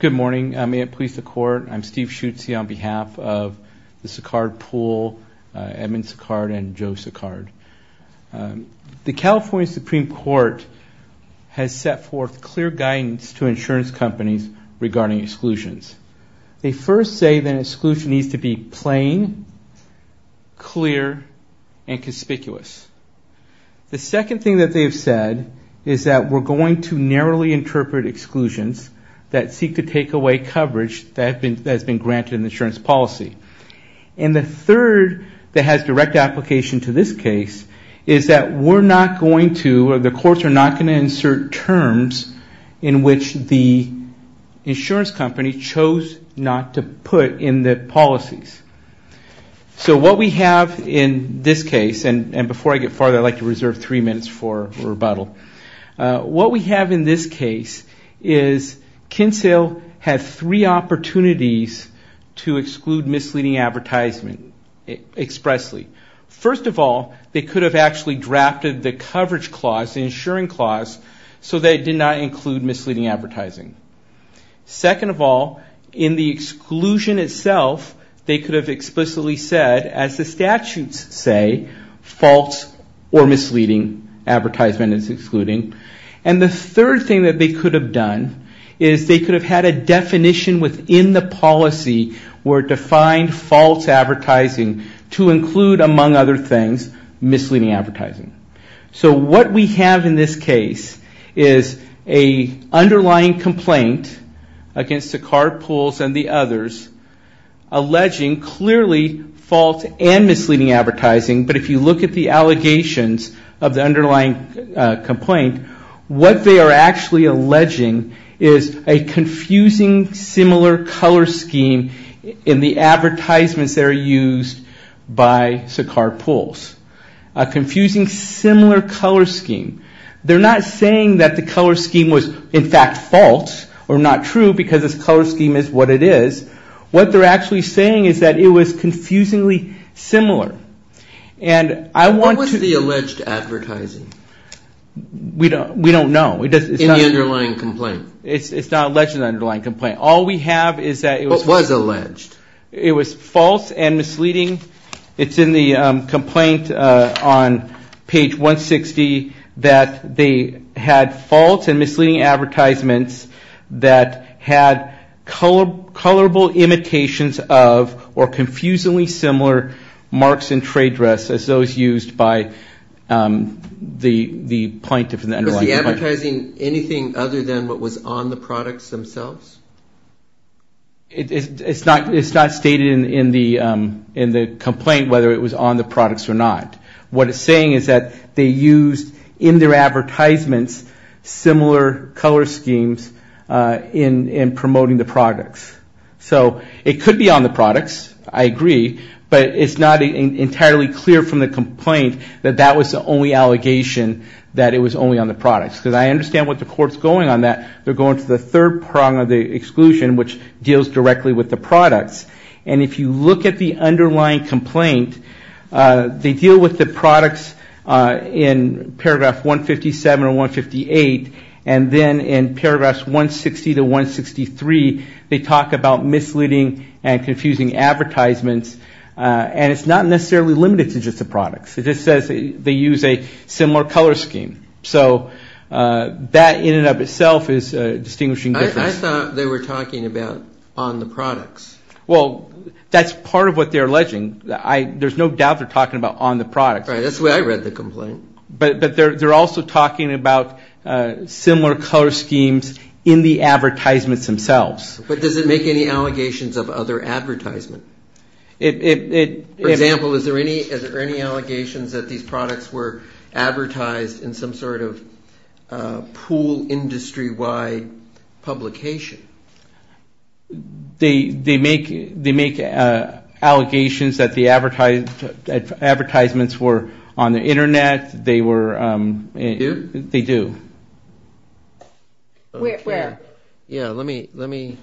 The California Supreme Court has set forth clear guidance to insurance companies regarding exclusions. They first say that an exclusion needs to be plain, clear, and conspicuous. The second thing that they have said is that we're going to narrowly interpret exclusions that seek to take away coverage that has been granted in the insurance policy. And the third that has direct application to this case is that we're not going to, or the courts are not going to, insert terms in which the insurance company chose not to put in the policies. So what we have in this case, and before I get farther, I'd like to reserve three minutes for rebuttal. What we have in this case is Kinsale had three opportunities to exclude misleading advertisement expressly. First of all, they could have actually drafted the coverage clause, the insuring clause, so that it did not include misleading advertising. Second of all, in the exclusion itself, they could have explicitly said, as the statutes say, false or misleading advertisement is excluding. And the third thing that they could have done is they could have had a definition within the policy where defined false advertising to include, among other things, misleading advertising. So what we have in this case is an underlying complaint against Saccard Pools and the others alleging clearly false and misleading advertising. But if you look at the allegations of the underlying complaint, what they are actually alleging is a confusing similar color scheme in the advertisements that are used by Saccard Pools. A confusing similar color scheme. They're not saying that the color scheme was, in fact, false or not true because this color scheme is what it is. What they're actually saying is that it was confusingly similar. And I want to... What was the alleged advertising? We don't know. In the underlying complaint? It's not alleged in the underlying complaint. All we have is that it was... What was alleged? It was false and misleading. It's in the complaint on page 160 that they had false and misleading advertisements that had colorable imitations of or confusingly similar marks and trade dress as those used by the plaintiff in the underlying complaint. Was the advertising anything other than what was on the products themselves? It's not stated in the complaint whether it was on the products or not. What it's saying is that they used in their advertisements similar color schemes in promoting the products. So it could be on the products. I agree. But it's not entirely clear from the complaint that that was the only allegation that it was only on the products. Because I understand what the court's going on that. They're going to the third prong of the exclusion, which deals directly with the products. And if you look at the underlying complaint, they deal with the products in paragraph 157 or 158. And then in paragraphs 160 to 163, they talk about misleading and confusing advertisements. And it's not necessarily limited to just the products. It just says they use a similar color scheme. So that in and of itself is a distinguishing difference. I thought they were talking about on the products. Well, that's part of what they're alleging. There's no doubt they're talking about on the products. Right. That's the way I read the complaint. But they're also talking about similar color schemes in the advertisements themselves. But does it make any allegations of other advertisement? For example, is there any allegations that these products were advertised in some sort of pool industry-wide publication? They make allegations that the advertisements were on the Internet. They were. Do? They do. Where? Yeah, let me. Maybe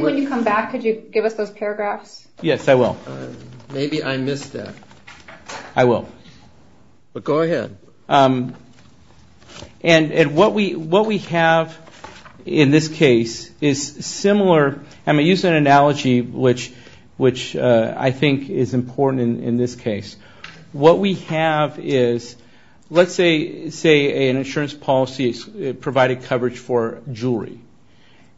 when you come back, could you give us those paragraphs? Yes, I will. Maybe I missed that. I will. But go ahead. And what we have in this case is similar. I'm going to use an analogy, which I think is important in this case. What we have is, let's say an insurance policy provided coverage for jewelry.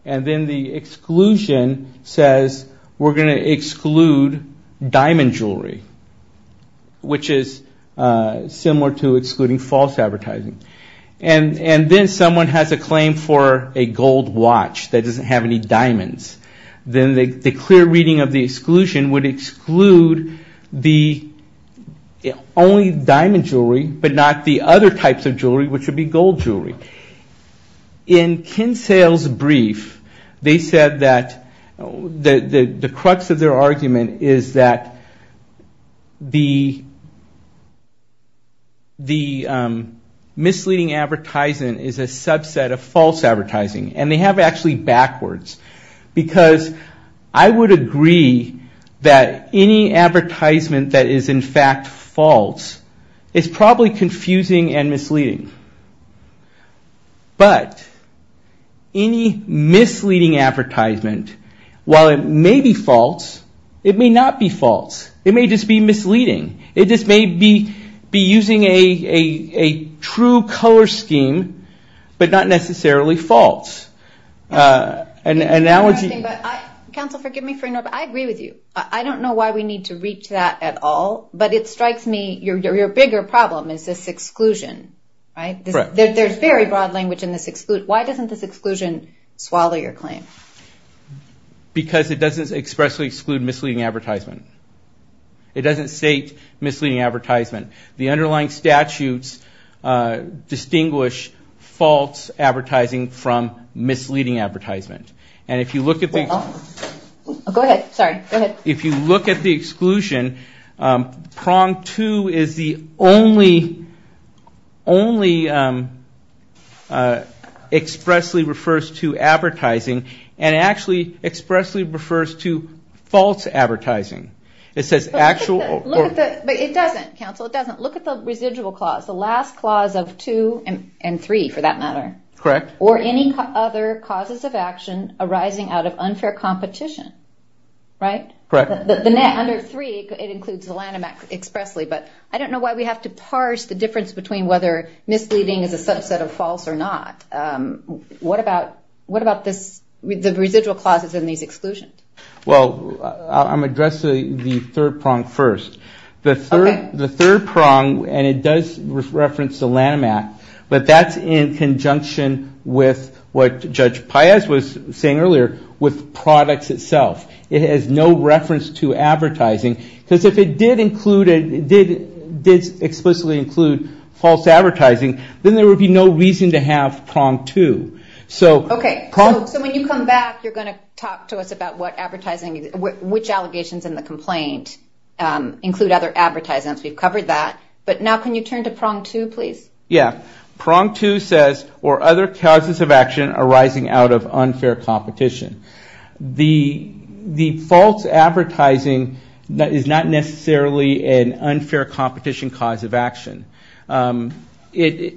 And then the exclusion says we're going to exclude diamond jewelry, which is similar to excluding false advertising. And then someone has a claim for a gold watch that doesn't have any diamonds. Then the clear reading of the exclusion would exclude the only diamond jewelry, but not the other types of jewelry, which would be gold jewelry. In Kinsale's brief, they said that the crux of their argument is that the misleading advertisement is a subset of false advertising. And they have actually backwards. Because I would agree that any advertisement that is in fact false is probably confusing and misleading. But any misleading advertisement, while it may be false, it may not be false. It may just be misleading. It just may be using a true color scheme, but not necessarily false. An analogy. Counsel, forgive me for interrupting. I agree with you. I don't know why we need to reach that at all. But it strikes me your bigger problem is this exclusion, right? There's very broad language in this exclude. Why doesn't this exclusion swallow your claim? Because it doesn't expressly exclude misleading advertisement. It doesn't state misleading advertisement. The underlying statutes distinguish false advertising from misleading advertisement. And if you look at the exclusion, prong two is the only expressly refers to advertising. And actually expressly refers to false advertising. It says actual. But it doesn't, counsel. It doesn't. Look at the residual clause. The last clause of two and three, for that matter. Correct. Or any other causes of action arising out of unfair competition. Right? Correct. The net under three, it includes the Lanham Act expressly. But I don't know why we have to parse the difference between whether misleading is a subset of false or not. What about the residual clauses in these exclusions? Well, I'm going to address the third prong first. The third prong, and it does reference the Lanham Act, but that's in conjunction with what Judge Paez was saying earlier with products itself. It has no reference to advertising. Because if it did explicitly include false advertising, then there would be no reason to have prong two. Okay. So when you come back, you're going to talk to us about what advertising, which allegations in the complaint include other advertisements. We've covered that. But now can you turn to prong two, please? Yeah. Prong two says, or other causes of action arising out of unfair competition. The false advertising is not necessarily an unfair competition cause of action. What they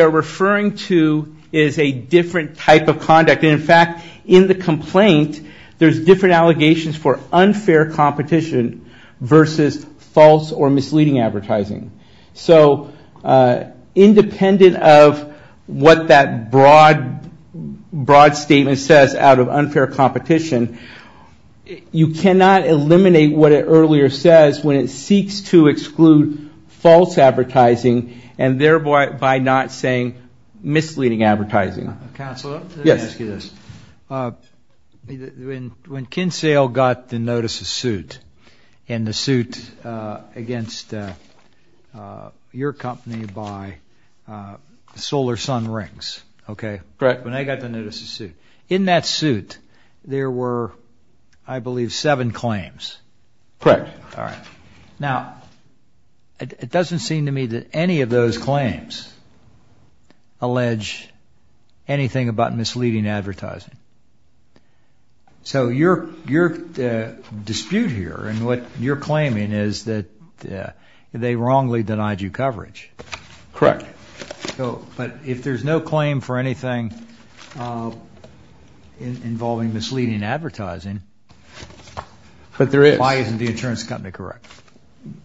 are referring to is a different type of conduct. And in fact, in the complaint, there's different allegations for unfair competition versus false or misleading advertising. So independent of what that broad statement says out of unfair competition, you cannot eliminate what it earlier says when it seeks to exclude false advertising and thereby by not saying misleading advertising. Counselor? Yes. Let me ask you this. When Kinsale got the notice of suit and the suit against your company by Solar Sun Rings, okay? Correct. When they got the notice of suit. In that suit, there were, I believe, seven claims. Correct. All right. Now, it doesn't seem to me that any of those claims allege anything about misleading advertising. So your dispute here and what you're claiming is that they wrongly denied you coverage. Correct. But if there's no claim for anything involving misleading advertising, why isn't the insurance company correct?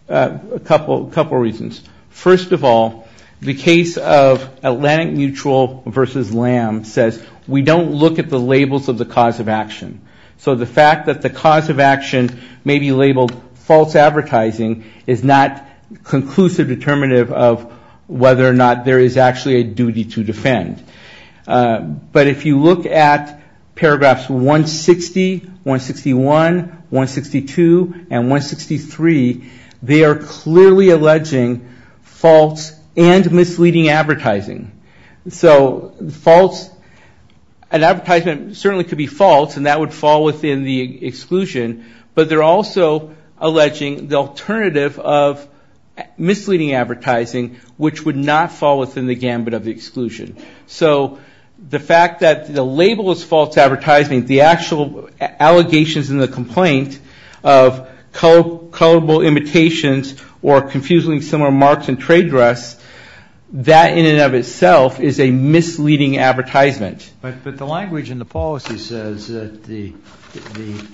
A couple reasons. First of all, the case of Atlantic Mutual versus Lamb says we don't look at the labels of the cause of action. So the fact that the cause of action may be labeled false advertising is not conclusive determinative of whether or not there is actually a duty to defend. But if you look at paragraphs 160, 161, 162, and 163, they are clearly alleging false and misleading advertising. So false, an advertisement certainly could be false and that would fall within the exclusion, but they're also alleging the alternative of misleading advertising, which would not fall within the gambit of the exclusion. So the fact that the label is false advertising, the actual allegations in the complaint of colorable imitations or confusingly similar marks and trade dress, that in and of itself is a misleading advertisement. But the language in the policy says that the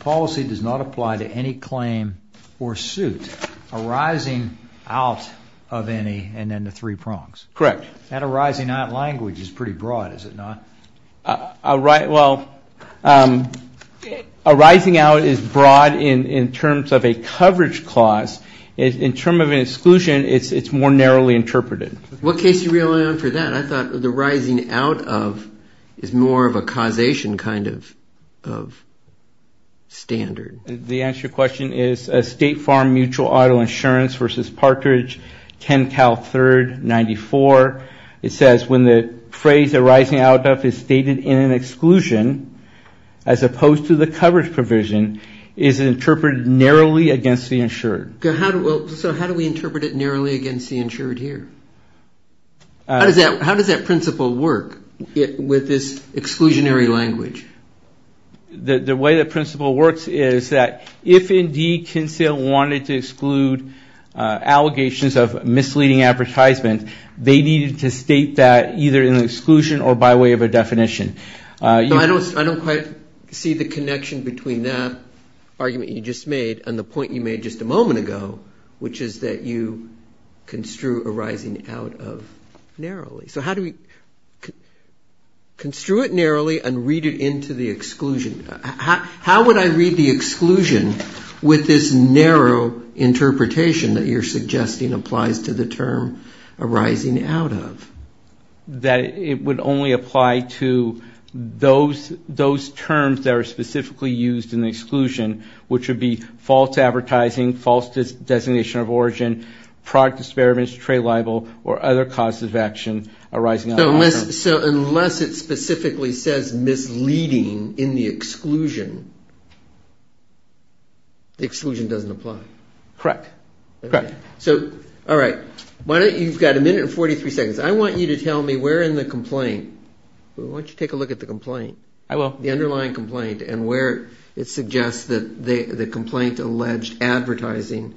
policy does not apply to any claim or suit arising out of any and then the three prongs. Correct. That arising out language is pretty broad, is it not? Well, arising out is broad in terms of a coverage clause. In terms of an exclusion, it's more narrowly interpreted. What case do you rely on for that? I thought the rising out of is more of a causation kind of standard. The answer to your question is State Farm Mutual Auto Insurance v. Partridge, 10 Cal 3rd, 94. It says when the phrase arising out of is stated in an exclusion as opposed to the coverage provision, it is interpreted narrowly against the insured. So how do we interpret it narrowly against the insured here? How does that principle work with this exclusionary language? The way the principle works is that if indeed Kinsella wanted to exclude allegations of misleading advertisement, they needed to state that either in exclusion or by way of a definition. I don't quite see the connection between that argument you just made and the point you made just a moment ago, which is that you construe arising out of narrowly. So how do we construe it narrowly and read it into the exclusion? How would I read the exclusion with this narrow interpretation that you're suggesting applies to the term arising out of? That it would only apply to those terms that are specifically used in the exclusion, which would be false advertising, false designation of origin, product disparage, trade libel, or other causes of action arising out of. So unless it specifically says misleading in the exclusion, the exclusion doesn't apply. Correct. All right. You've got a minute and 43 seconds. I want you to tell me where in the complaint, why don't you take a look at the complaint. I will. The underlying complaint and where it suggests that the complaint alleged advertising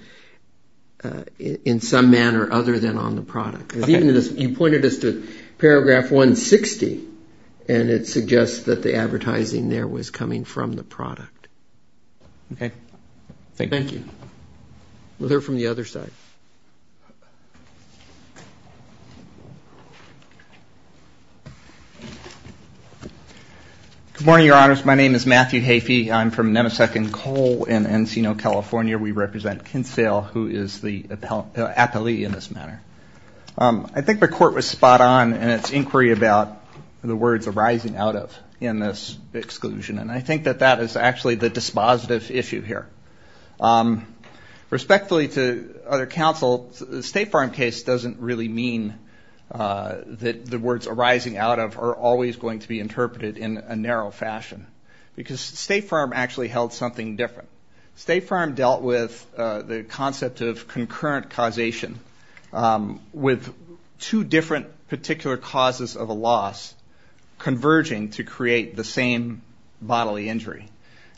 in some manner other than on the product. You pointed us to paragraph 160, and it suggests that the advertising there was coming from the product. Okay. Thank you. We'll hear from the other side. Good morning, Your Honors. My name is Matthew Heafey. I'm from Nemesek and Cole in Encino, California. We represent Kinsale, who is the appellee in this matter. I think the court was spot on in its inquiry about the words arising out of in this exclusion, and I think that that is actually the dispositive issue here. Respectfully to other counsel, the State Farm case doesn't really mean that the words arising out of are always going to be interpreted in a narrow fashion because State Farm actually held something different. State Farm dealt with the concept of concurrent causation with two different particular causes of a loss converging to create the same bodily injury.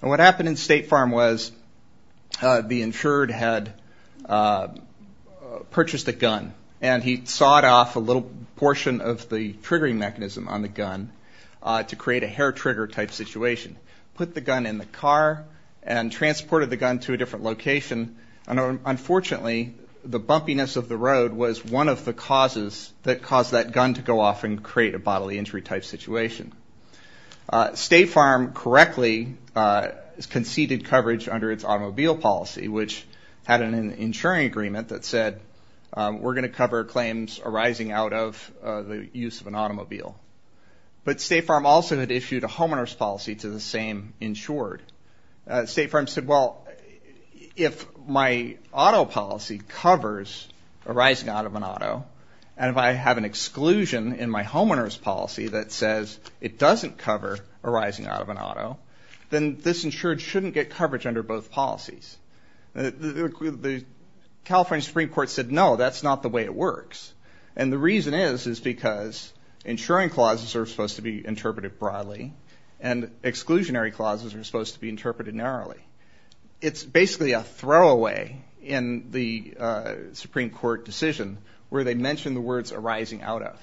And what happened in State Farm was the insured had purchased a gun, and he sawed off a little portion of the triggering mechanism on the gun to create a hair-trigger type situation, put the gun in the car, and transported the gun to a different location. And unfortunately, the bumpiness of the road was one of the causes that caused that gun to go off and create a bodily injury type situation. State Farm correctly conceded coverage under its automobile policy, which had an insuring agreement that said we're going to cover claims arising out of the use of an automobile. But State Farm also had issued a homeowner's policy to the same insured. State Farm said, well, if my auto policy covers arising out of an auto, and if I have an exclusion in my homeowner's policy that says it doesn't cover arising out of an auto, then this insured shouldn't get coverage under both policies. The California Supreme Court said, no, that's not the way it works. And the reason is is because insuring clauses are supposed to be interpreted broadly, and exclusionary clauses are supposed to be interpreted narrowly. It's basically a throwaway in the Supreme Court decision where they mention the words arising out of,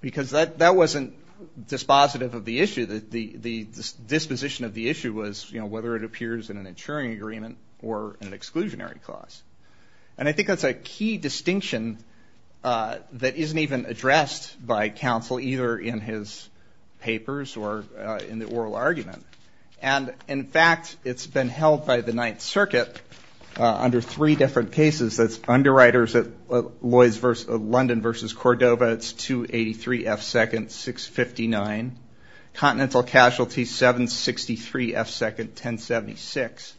because that wasn't dispositive of the issue. The disposition of the issue was whether it appears in an insuring agreement or an exclusionary clause. And I think that's a key distinction that isn't even addressed by counsel, either in his papers or in the oral argument. And, in fact, it's been held by the Ninth Circuit under three different cases. That's underwriters of London v. Cordova, it's 283 F. Second, 659. Continental Casualty, 763 F. Second, 1076.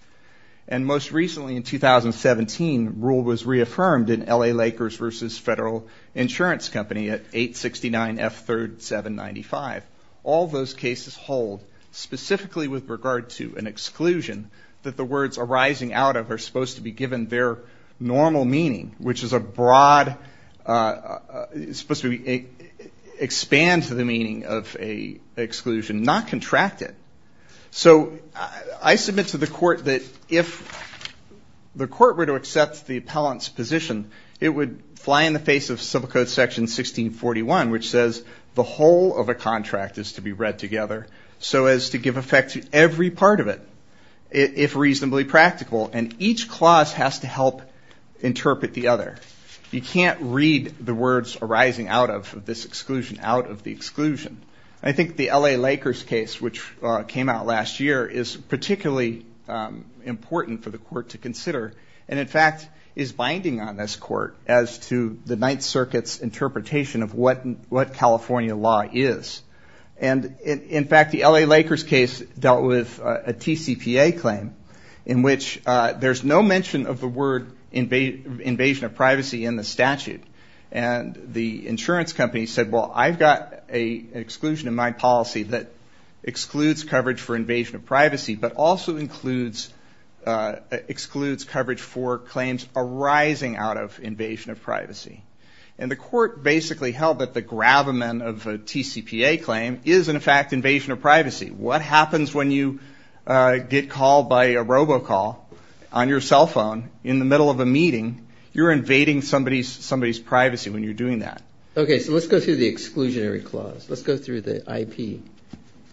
And most recently in 2017, rule was reaffirmed in L.A. Lakers v. Federal Insurance Company at 869 F. Third, 795. All those cases hold specifically with regard to an exclusion that the words arising out of are supposed to be given their normal meaning, which is a broad, supposed to expand to the meaning of an exclusion, not contract it. So I submit to the court that if the court were to accept the appellant's position, it would fly in the face of Civil Code Section 1641, which says the whole of a contract is to be read together so as to give effect to every part of it, if reasonably practical. And each clause has to help interpret the other. You can't read the words arising out of this exclusion out of the exclusion. I think the L.A. Lakers case, which came out last year, is particularly important for the court to consider and in fact is binding on this court as to the Ninth Circuit's interpretation of what California law is. And in fact, the L.A. Lakers case dealt with a TCPA claim in which there's no mention of the word invasion of privacy in the statute. And the insurance company said, well, I've got an exclusion in my policy that excludes coverage for invasion of privacy, but also excludes coverage for claims arising out of invasion of privacy. And the court basically held that the gravamen of a TCPA claim is in fact invasion of privacy. What happens when you get called by a robocall on your cell phone in the middle of a meeting? You're invading somebody's privacy when you're doing that. Okay, so let's go through the exclusionary clause. Let's go through the IP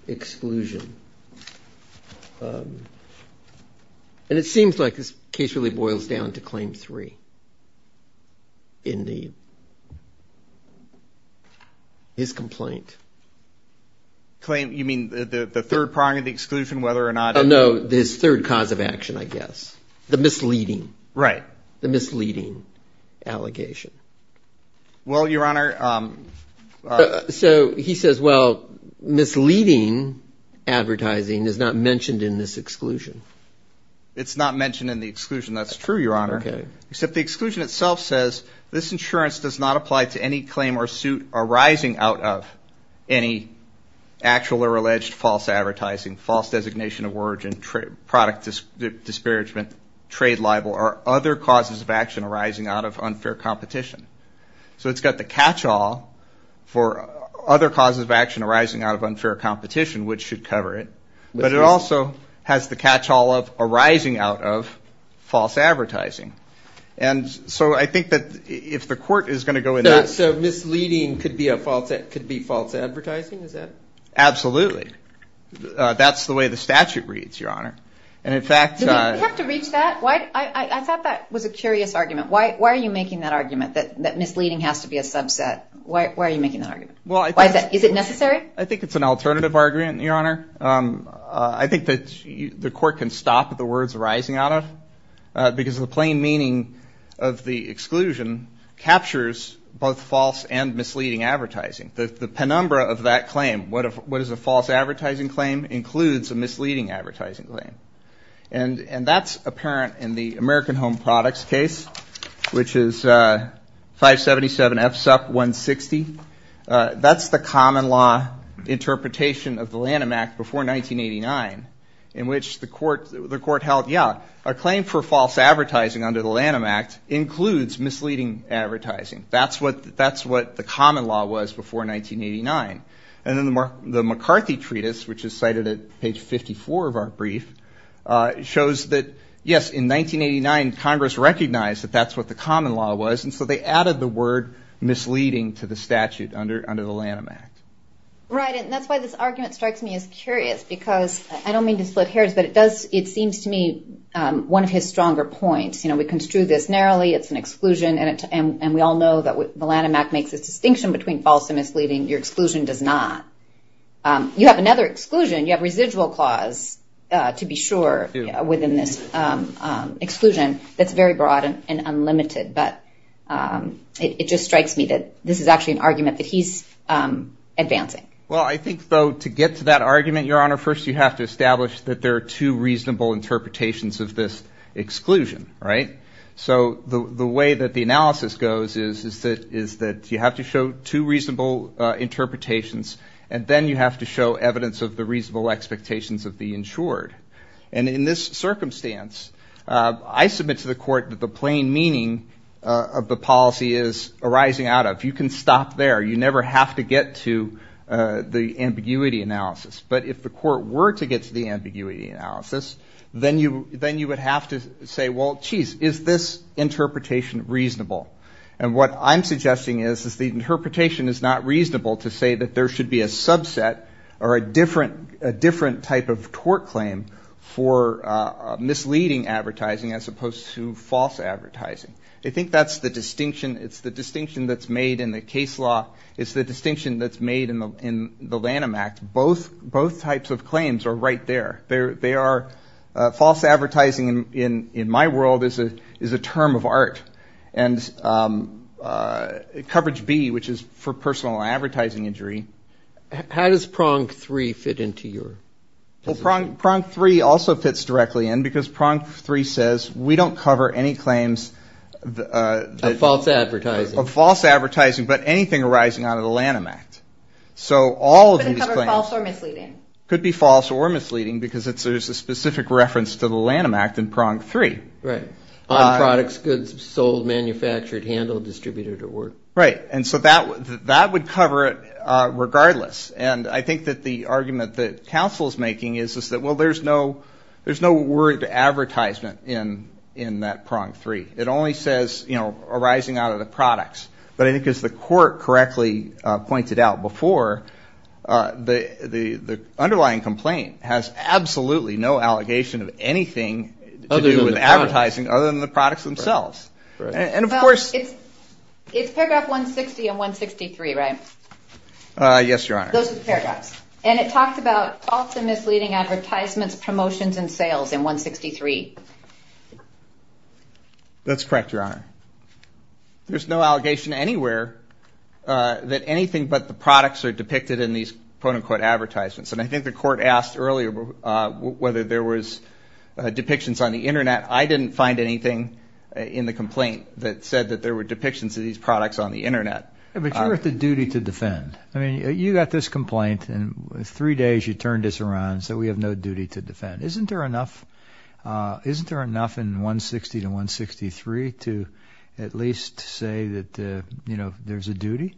exclusion. And it seems like this case really boils down to Claim 3 in his complaint. You mean the third prong of the exclusion, whether or not it... No, this third cause of action, I guess, the misleading. Right. The misleading allegation. Well, Your Honor... So he says, well, misleading advertising is not mentioned in this exclusion. It's not mentioned in the exclusion. That's true, Your Honor. Okay. Except the exclusion itself says this insurance does not apply to any claim or suit arising out of any actual or alleged false advertising, false designation of origin, product disparagement, trade libel, or other causes of action arising out of unfair competition. So it's got the catch-all for other causes of action arising out of unfair competition, which should cover it. But it also has the catch-all of arising out of false advertising. And so I think that if the court is going to go in that... So misleading could be false advertising? Absolutely. That's the way the statute reads, Your Honor. And in fact... Do we have to reach that? I thought that was a curious argument. Why are you making that argument that misleading has to be a subset? Why are you making that argument? Is it necessary? I think it's an alternative argument, Your Honor. I think that the court can stop at the words arising out of, because the plain meaning of the exclusion captures both false and misleading advertising. The penumbra of that claim, what is a false advertising claim, includes a misleading advertising claim. And that's apparent in the American Home Products case, which is 577 F SUP 160. That's the common law interpretation of the Lanham Act before 1989, in which the court held, yeah, a claim for false advertising under the Lanham Act includes misleading advertising. That's what the common law was before 1989. And then the McCarthy Treatise, which is cited at page 54 of our brief, shows that, yes, in 1989, Congress recognized that that's what the common law was. And so they added the word misleading to the statute under the Lanham Act. Right. And that's why this argument strikes me as curious, because I don't mean to split hairs, but it seems to me one of his stronger points. You know, we construe this narrowly. It's an exclusion. And we all know that the Lanham Act makes a distinction between false and misleading. Your exclusion does not. You have another exclusion. You have residual clause, to be sure, within this exclusion that's very broad and unlimited. But it just strikes me that this is actually an argument that he's advancing. Well, I think, though, to get to that argument, Your Honor, first you have to establish that there are two reasonable interpretations of this exclusion. Right. So the way that the analysis goes is that you have to show two reasonable interpretations, and then you have to show evidence of the reasonable expectations of the insured. And in this circumstance, I submit to the Court that the plain meaning of the policy is arising out of. You can stop there. You never have to get to the ambiguity analysis. But if the Court were to get to the ambiguity analysis, then you would have to say, well, geez, is this interpretation reasonable? And what I'm suggesting is, is the interpretation is not reasonable to say that there should be a subset or a different type of tort claim for misleading advertising as opposed to false advertising. I think that's the distinction. It's the distinction that's made in the case law. It's the distinction that's made in the Lanham Act. Both types of claims are right there. They are false advertising in my world is a term of art. And coverage B, which is for personal advertising injury. How does prong three fit into your decision? Well, prong three also fits directly in because prong three says we don't cover any claims. Of false advertising. Of false advertising, but anything arising out of the Lanham Act. So all of these claims. Could be false or misleading. Could be false or misleading because there's a specific reference to the Lanham Act in prong three. Right. On products, goods sold, manufactured, handled, distributed, or ordered. Right. And so that would cover it regardless. And I think that the argument that counsel is making is that, well, there's no word advertisement in that prong three. It only says arising out of the products. But I think as the court correctly pointed out before, the underlying complaint has absolutely no allegation of anything to do with advertising other than the products themselves. And of course. It's paragraph 160 and 163, right? Those are the paragraphs. And it talks about false and misleading advertisements, promotions, and sales in 163. That's correct, Your Honor. There's no allegation anywhere that anything but the products are depicted in these quote unquote advertisements. And I think the court asked earlier whether there was depictions on the Internet. I didn't find anything in the complaint that said that there were depictions of these products on the Internet. But you're at the duty to defend. I mean, you got this complaint and three days you turned this around so we have no duty to defend. Isn't there enough in 160 to 163 to at least say that, you know, there's a duty?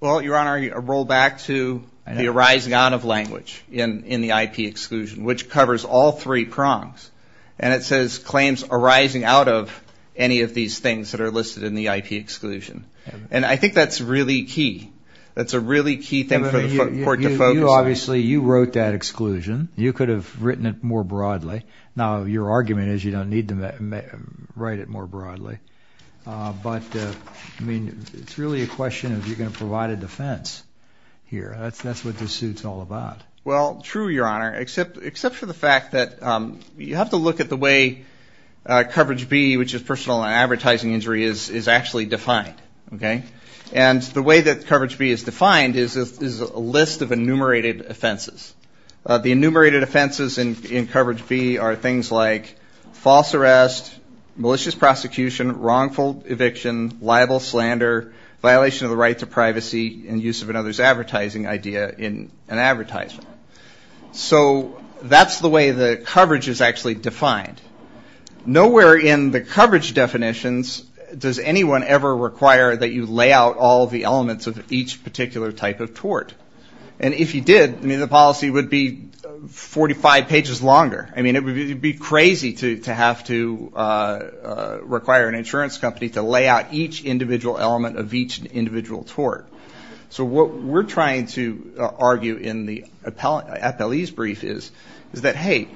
Well, Your Honor, roll back to the arising out of language in the IP exclusion, which covers all three prongs. And it says claims arising out of any of these things that are listed in the IP exclusion. And I think that's really key. That's a really key thing for the court to focus on. Obviously, you wrote that exclusion. You could have written it more broadly. Now, your argument is you don't need to write it more broadly. But, I mean, it's really a question of you're going to provide a defense here. That's what this suit's all about. Well, true, Your Honor, except for the fact that you have to look at the way coverage B, which is personal and advertising injury, is actually defined, okay? And the way that coverage B is defined is a list of enumerated offenses. The enumerated offenses in coverage B are things like false arrest, malicious prosecution, wrongful eviction, libel, slander, violation of the right to privacy, and use of another's advertising idea in an advertisement. So that's the way the coverage is actually defined. Nowhere in the coverage definitions does anyone ever require that you lay out all the elements of each particular type of tort. And if you did, I mean, the policy would be 45 pages longer. I mean, it would be crazy to have to require an insurance company to lay out each individual element of each individual tort. So what we're trying to argue in the appellee's brief is, is that, hey,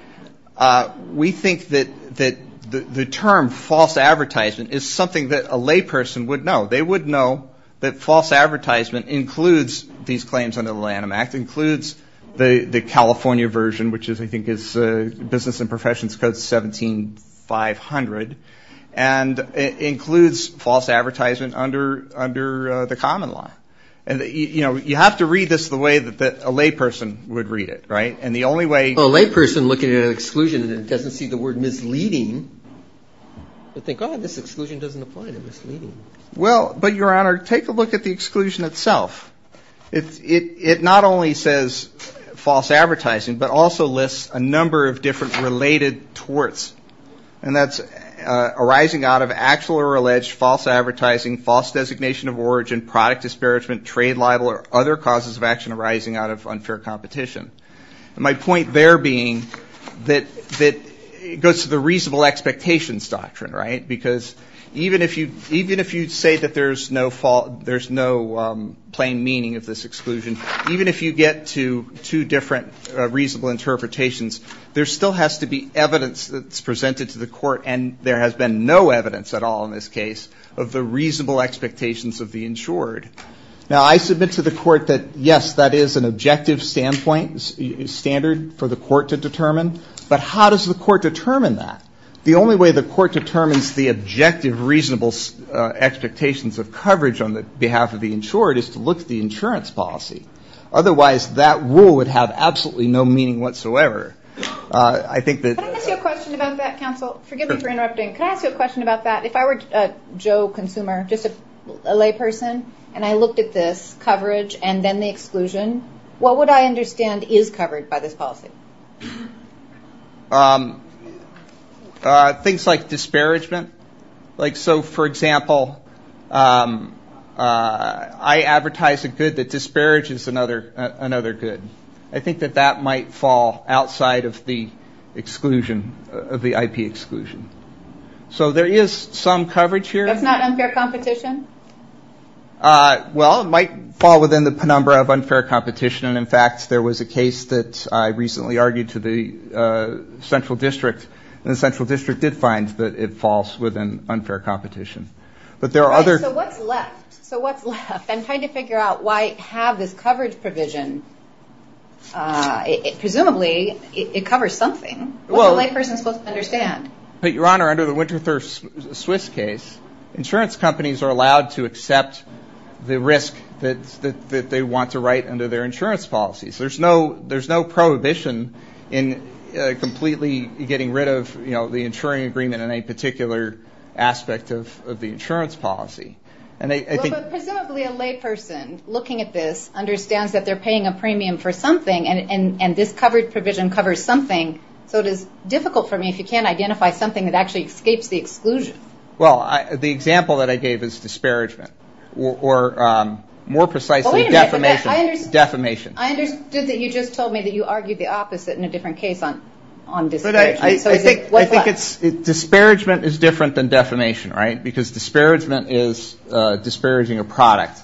we think that the term false advertisement is something that a layperson would know. They would know that false advertisement includes these claims under the Lanham Act, includes the California version, which I think is Business and Professions Code 17500, and it includes false advertisement under the common law. And you have to read this the way that a layperson would read it, right? A layperson looking at an exclusion and it doesn't see the word misleading would think, oh, this exclusion doesn't apply to misleading. Well, but, Your Honor, take a look at the exclusion itself. It not only says false advertising, but also lists a number of different related torts, and that's arising out of actual or alleged false advertising, false designation of origin, product disparagement, trade libel, or other causes of action arising out of unfair competition. And my point there being that it goes to the reasonable expectations doctrine, right? Because even if you say that there's no plain meaning of this exclusion, even if you get to two different reasonable interpretations, there still has to be evidence that's presented to the court, and there has been no evidence at all in this case of the reasonable expectations of the insured. Now, I submit to the court that, yes, that is an objective standard for the court to determine, but how does the court determine that? The only way the court determines the objective reasonable expectations of coverage on behalf of the insured is to look at the insurance policy. Otherwise, that rule would have absolutely no meaning whatsoever. I think that the- Can I ask you a question about that, counsel? Forgive me for interrupting. Can I ask you a question about that? If I were a Joe consumer, just a layperson, and I looked at this coverage and then the exclusion, what would I understand is covered by this policy? Things like disparagement. Like, so, for example, I advertise a good that disparages another good. I think that that might fall outside of the exclusion, of the IP exclusion. So there is some coverage here. That's not unfair competition? Well, it might fall within the penumbra of unfair competition. And, in fact, there was a case that I recently argued to the central district, and the central district did find that it falls within unfair competition. But there are other- Right. So what's left? So what's left? I'm trying to figure out why I have this coverage provision. Presumably, it covers something. What's a layperson supposed to understand? But, Your Honor, under the Winterthur-Swiss case, insurance companies are allowed to accept the risk that they want to write under their insurance policies. There's no prohibition in completely getting rid of, you know, the insuring agreement in a particular aspect of the insurance policy. And I think- Well, but presumably a layperson looking at this understands that they're paying a premium for something, and this coverage provision covers something. So it is difficult for me if you can't identify something that actually escapes the exclusion. Well, the example that I gave is disparagement. Or, more precisely, defamation. I understood that you just told me that you argued the opposite in a different case on disparagement. I think disparagement is different than defamation, right? Because disparagement is disparaging a product.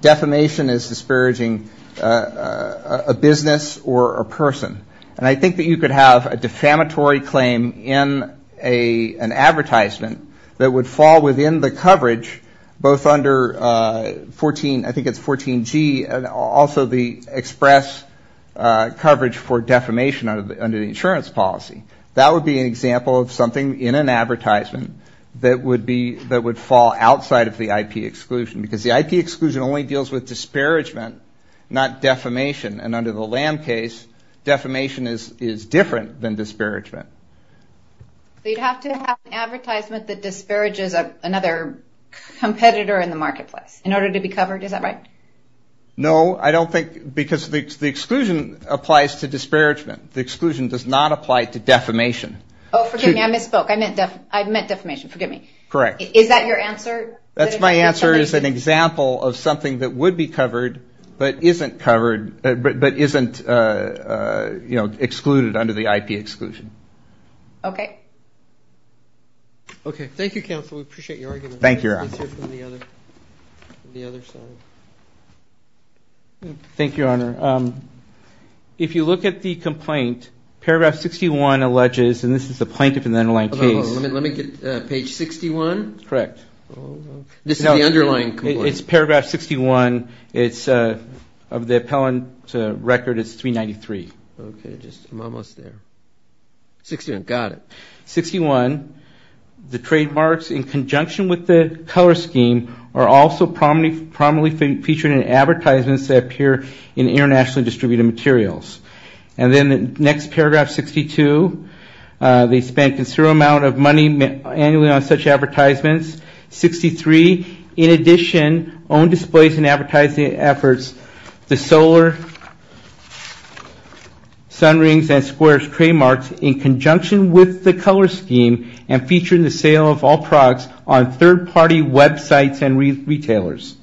Defamation is disparaging a business or a person. And I think that you could have a defamatory claim in an advertisement that would fall within the coverage both under 14- I think it's 14G and also the express coverage for defamation under the insurance policy. That would be an example of something in an advertisement that would be- that would fall outside of the IP exclusion. Because the IP exclusion only deals with disparagement, not defamation. And under the LAM case, defamation is different than disparagement. So you'd have to have an advertisement that disparages another competitor in the marketplace in order to be covered. Is that right? No. I don't think- because the exclusion applies to disparagement. The exclusion does not apply to defamation. Oh, forgive me. I misspoke. I meant defamation. Forgive me. Correct. Is that your answer? That's my answer is an example of something that would be covered but isn't covered- but isn't excluded under the IP exclusion. Okay. Okay. Thank you, Counsel. We appreciate your argument. Thank you, Your Honor. Let's hear from the other side. Thank you, Your Honor. If you look at the complaint, paragraph 61 alleges- and this is the plaintiff in the underlying case. Let me get page 61. Correct. This is the underlying complaint. It's paragraph 61. Of the appellant's record, it's 393. Okay. I'm almost there. 61. Got it. 61, the trademarks in conjunction with the color scheme are also prominently featured in advertisements that appear in internationally distributed materials. And then the next paragraph, 62. They spent a considerable amount of money annually on such advertisements. 63. In addition, on displays and advertising efforts, the solar sun rings and squares trademarks in conjunction with the color scheme and featured in the sale of all products on third-party websites and retailers.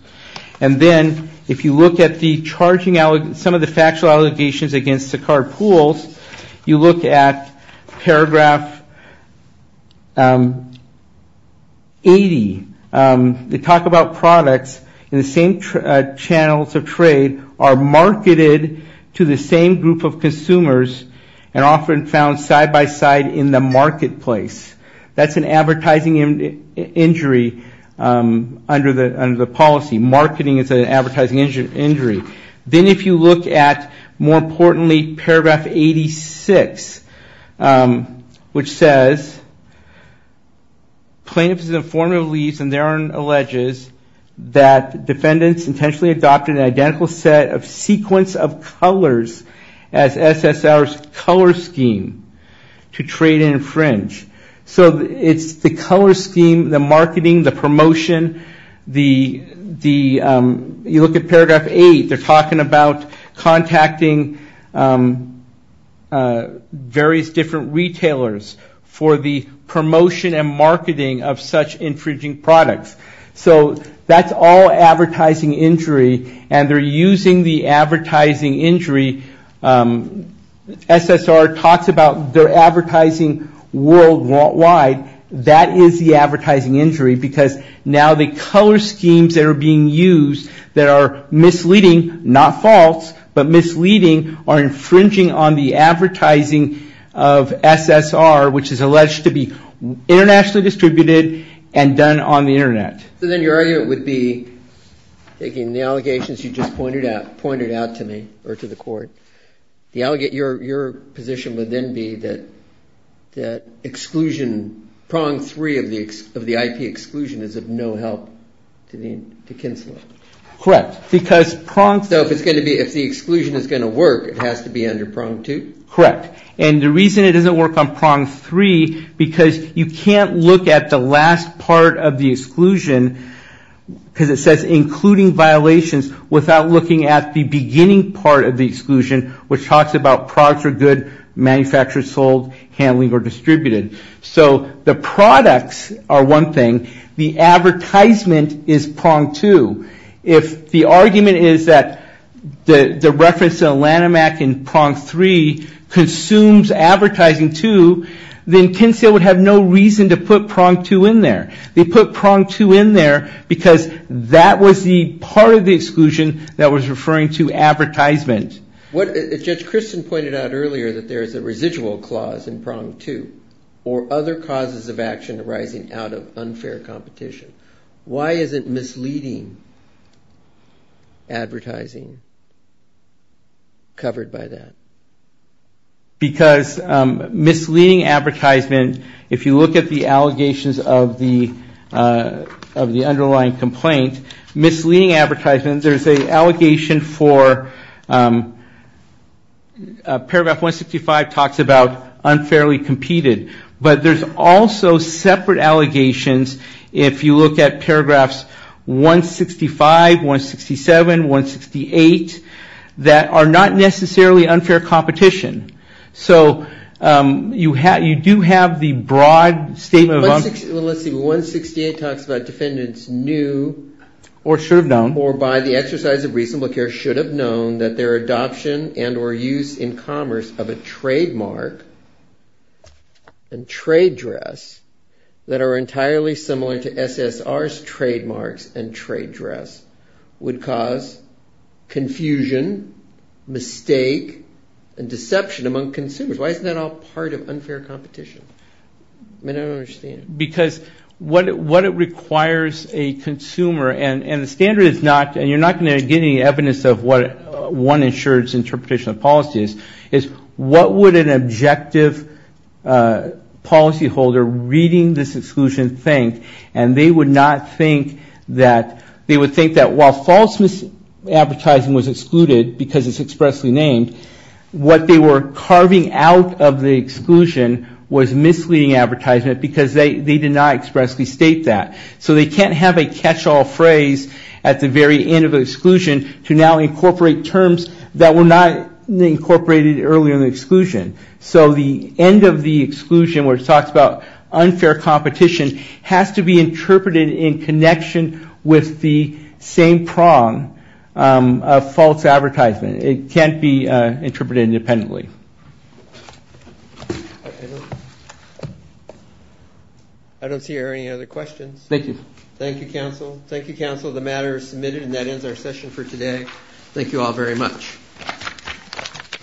And then if you look at some of the factual allegations against Sakaar Pools, you look at paragraph 80. They talk about products in the same channels of trade are marketed to the same group of consumers and often found side-by-side in the marketplace. That's an advertising injury under the policy. Marketing is an advertising injury. Then if you look at, more importantly, paragraph 86, which says, plaintiffs in the form of lease and their own alleges that defendants intentionally adopted an identical set of sequence of colors as SSR's color scheme to trade and infringe. So it's the color scheme, the marketing, the promotion. You look at paragraph 8. They're talking about contacting various different retailers for the promotion and marketing of such infringing products. So that's all advertising injury, and they're using the advertising injury. SSR talks about their advertising worldwide. That is the advertising injury because now the color schemes that are being used that are misleading, not false, but misleading, are infringing on the advertising of SSR, which is alleged to be internationally distributed and done on the Internet. So then your argument would be, taking the allegations you just pointed out to me or to the court, your position would then be that exclusion, prong three of the IP exclusion is of no help to Kinslow. Correct. So if the exclusion is going to work, it has to be under prong two? Correct. And the reason it doesn't work on prong three because you can't look at the last part of the exclusion because it says including violations without looking at the beginning part of the exclusion, which talks about products are good, manufactured, sold, handling, or distributed. So the products are one thing. The advertisement is prong two. If the argument is that the reference to Lanham Act in prong three consumes advertising too, then Kinslow would have no reason to put prong two in there. They put prong two in there because that was the part of the exclusion that was referring to advertisement. Judge Christen pointed out earlier that there is a residual clause in prong two or other causes of action arising out of unfair competition. Why isn't misleading advertising covered by that? Because misleading advertisement, if you look at the allegations of the underlying complaint, misleading advertisement, there's an allegation for paragraph 165 talks about unfairly competed. But there's also separate allegations if you look at paragraphs 165, 167, 168, that are not necessarily unfair competition. So you do have the broad statement. Let's see. 168 talks about defendants knew or should have known or by the exercise of reasonable care should have known that their adoption and or use in commerce of a trademark and trade dress that are entirely similar to SSR's trademarks and trade dress would cause confusion, mistake, and deception among consumers. Why isn't that all part of unfair competition? I don't understand. Because what it requires a consumer, and the standard is not, and you're not going to get any evidence of what one insurer's interpretation of policy is, is what would an objective policyholder reading this exclusion think? And they would not think that, they would think that while false advertising was excluded because it's expressly named, what they were carving out of the exclusion was misleading advertisement because they did not expressly state that. So they can't have a catch-all phrase at the very end of the exclusion to now incorporate terms that were not incorporated earlier in the exclusion. So the end of the exclusion where it talks about unfair competition has to be interpreted in connection with the same prong of false advertisement. It can't be interpreted independently. I don't see any other questions. Thank you. Thank you, counsel. Thank you, counsel. The matter is submitted and that ends our session for today. Thank you all very much.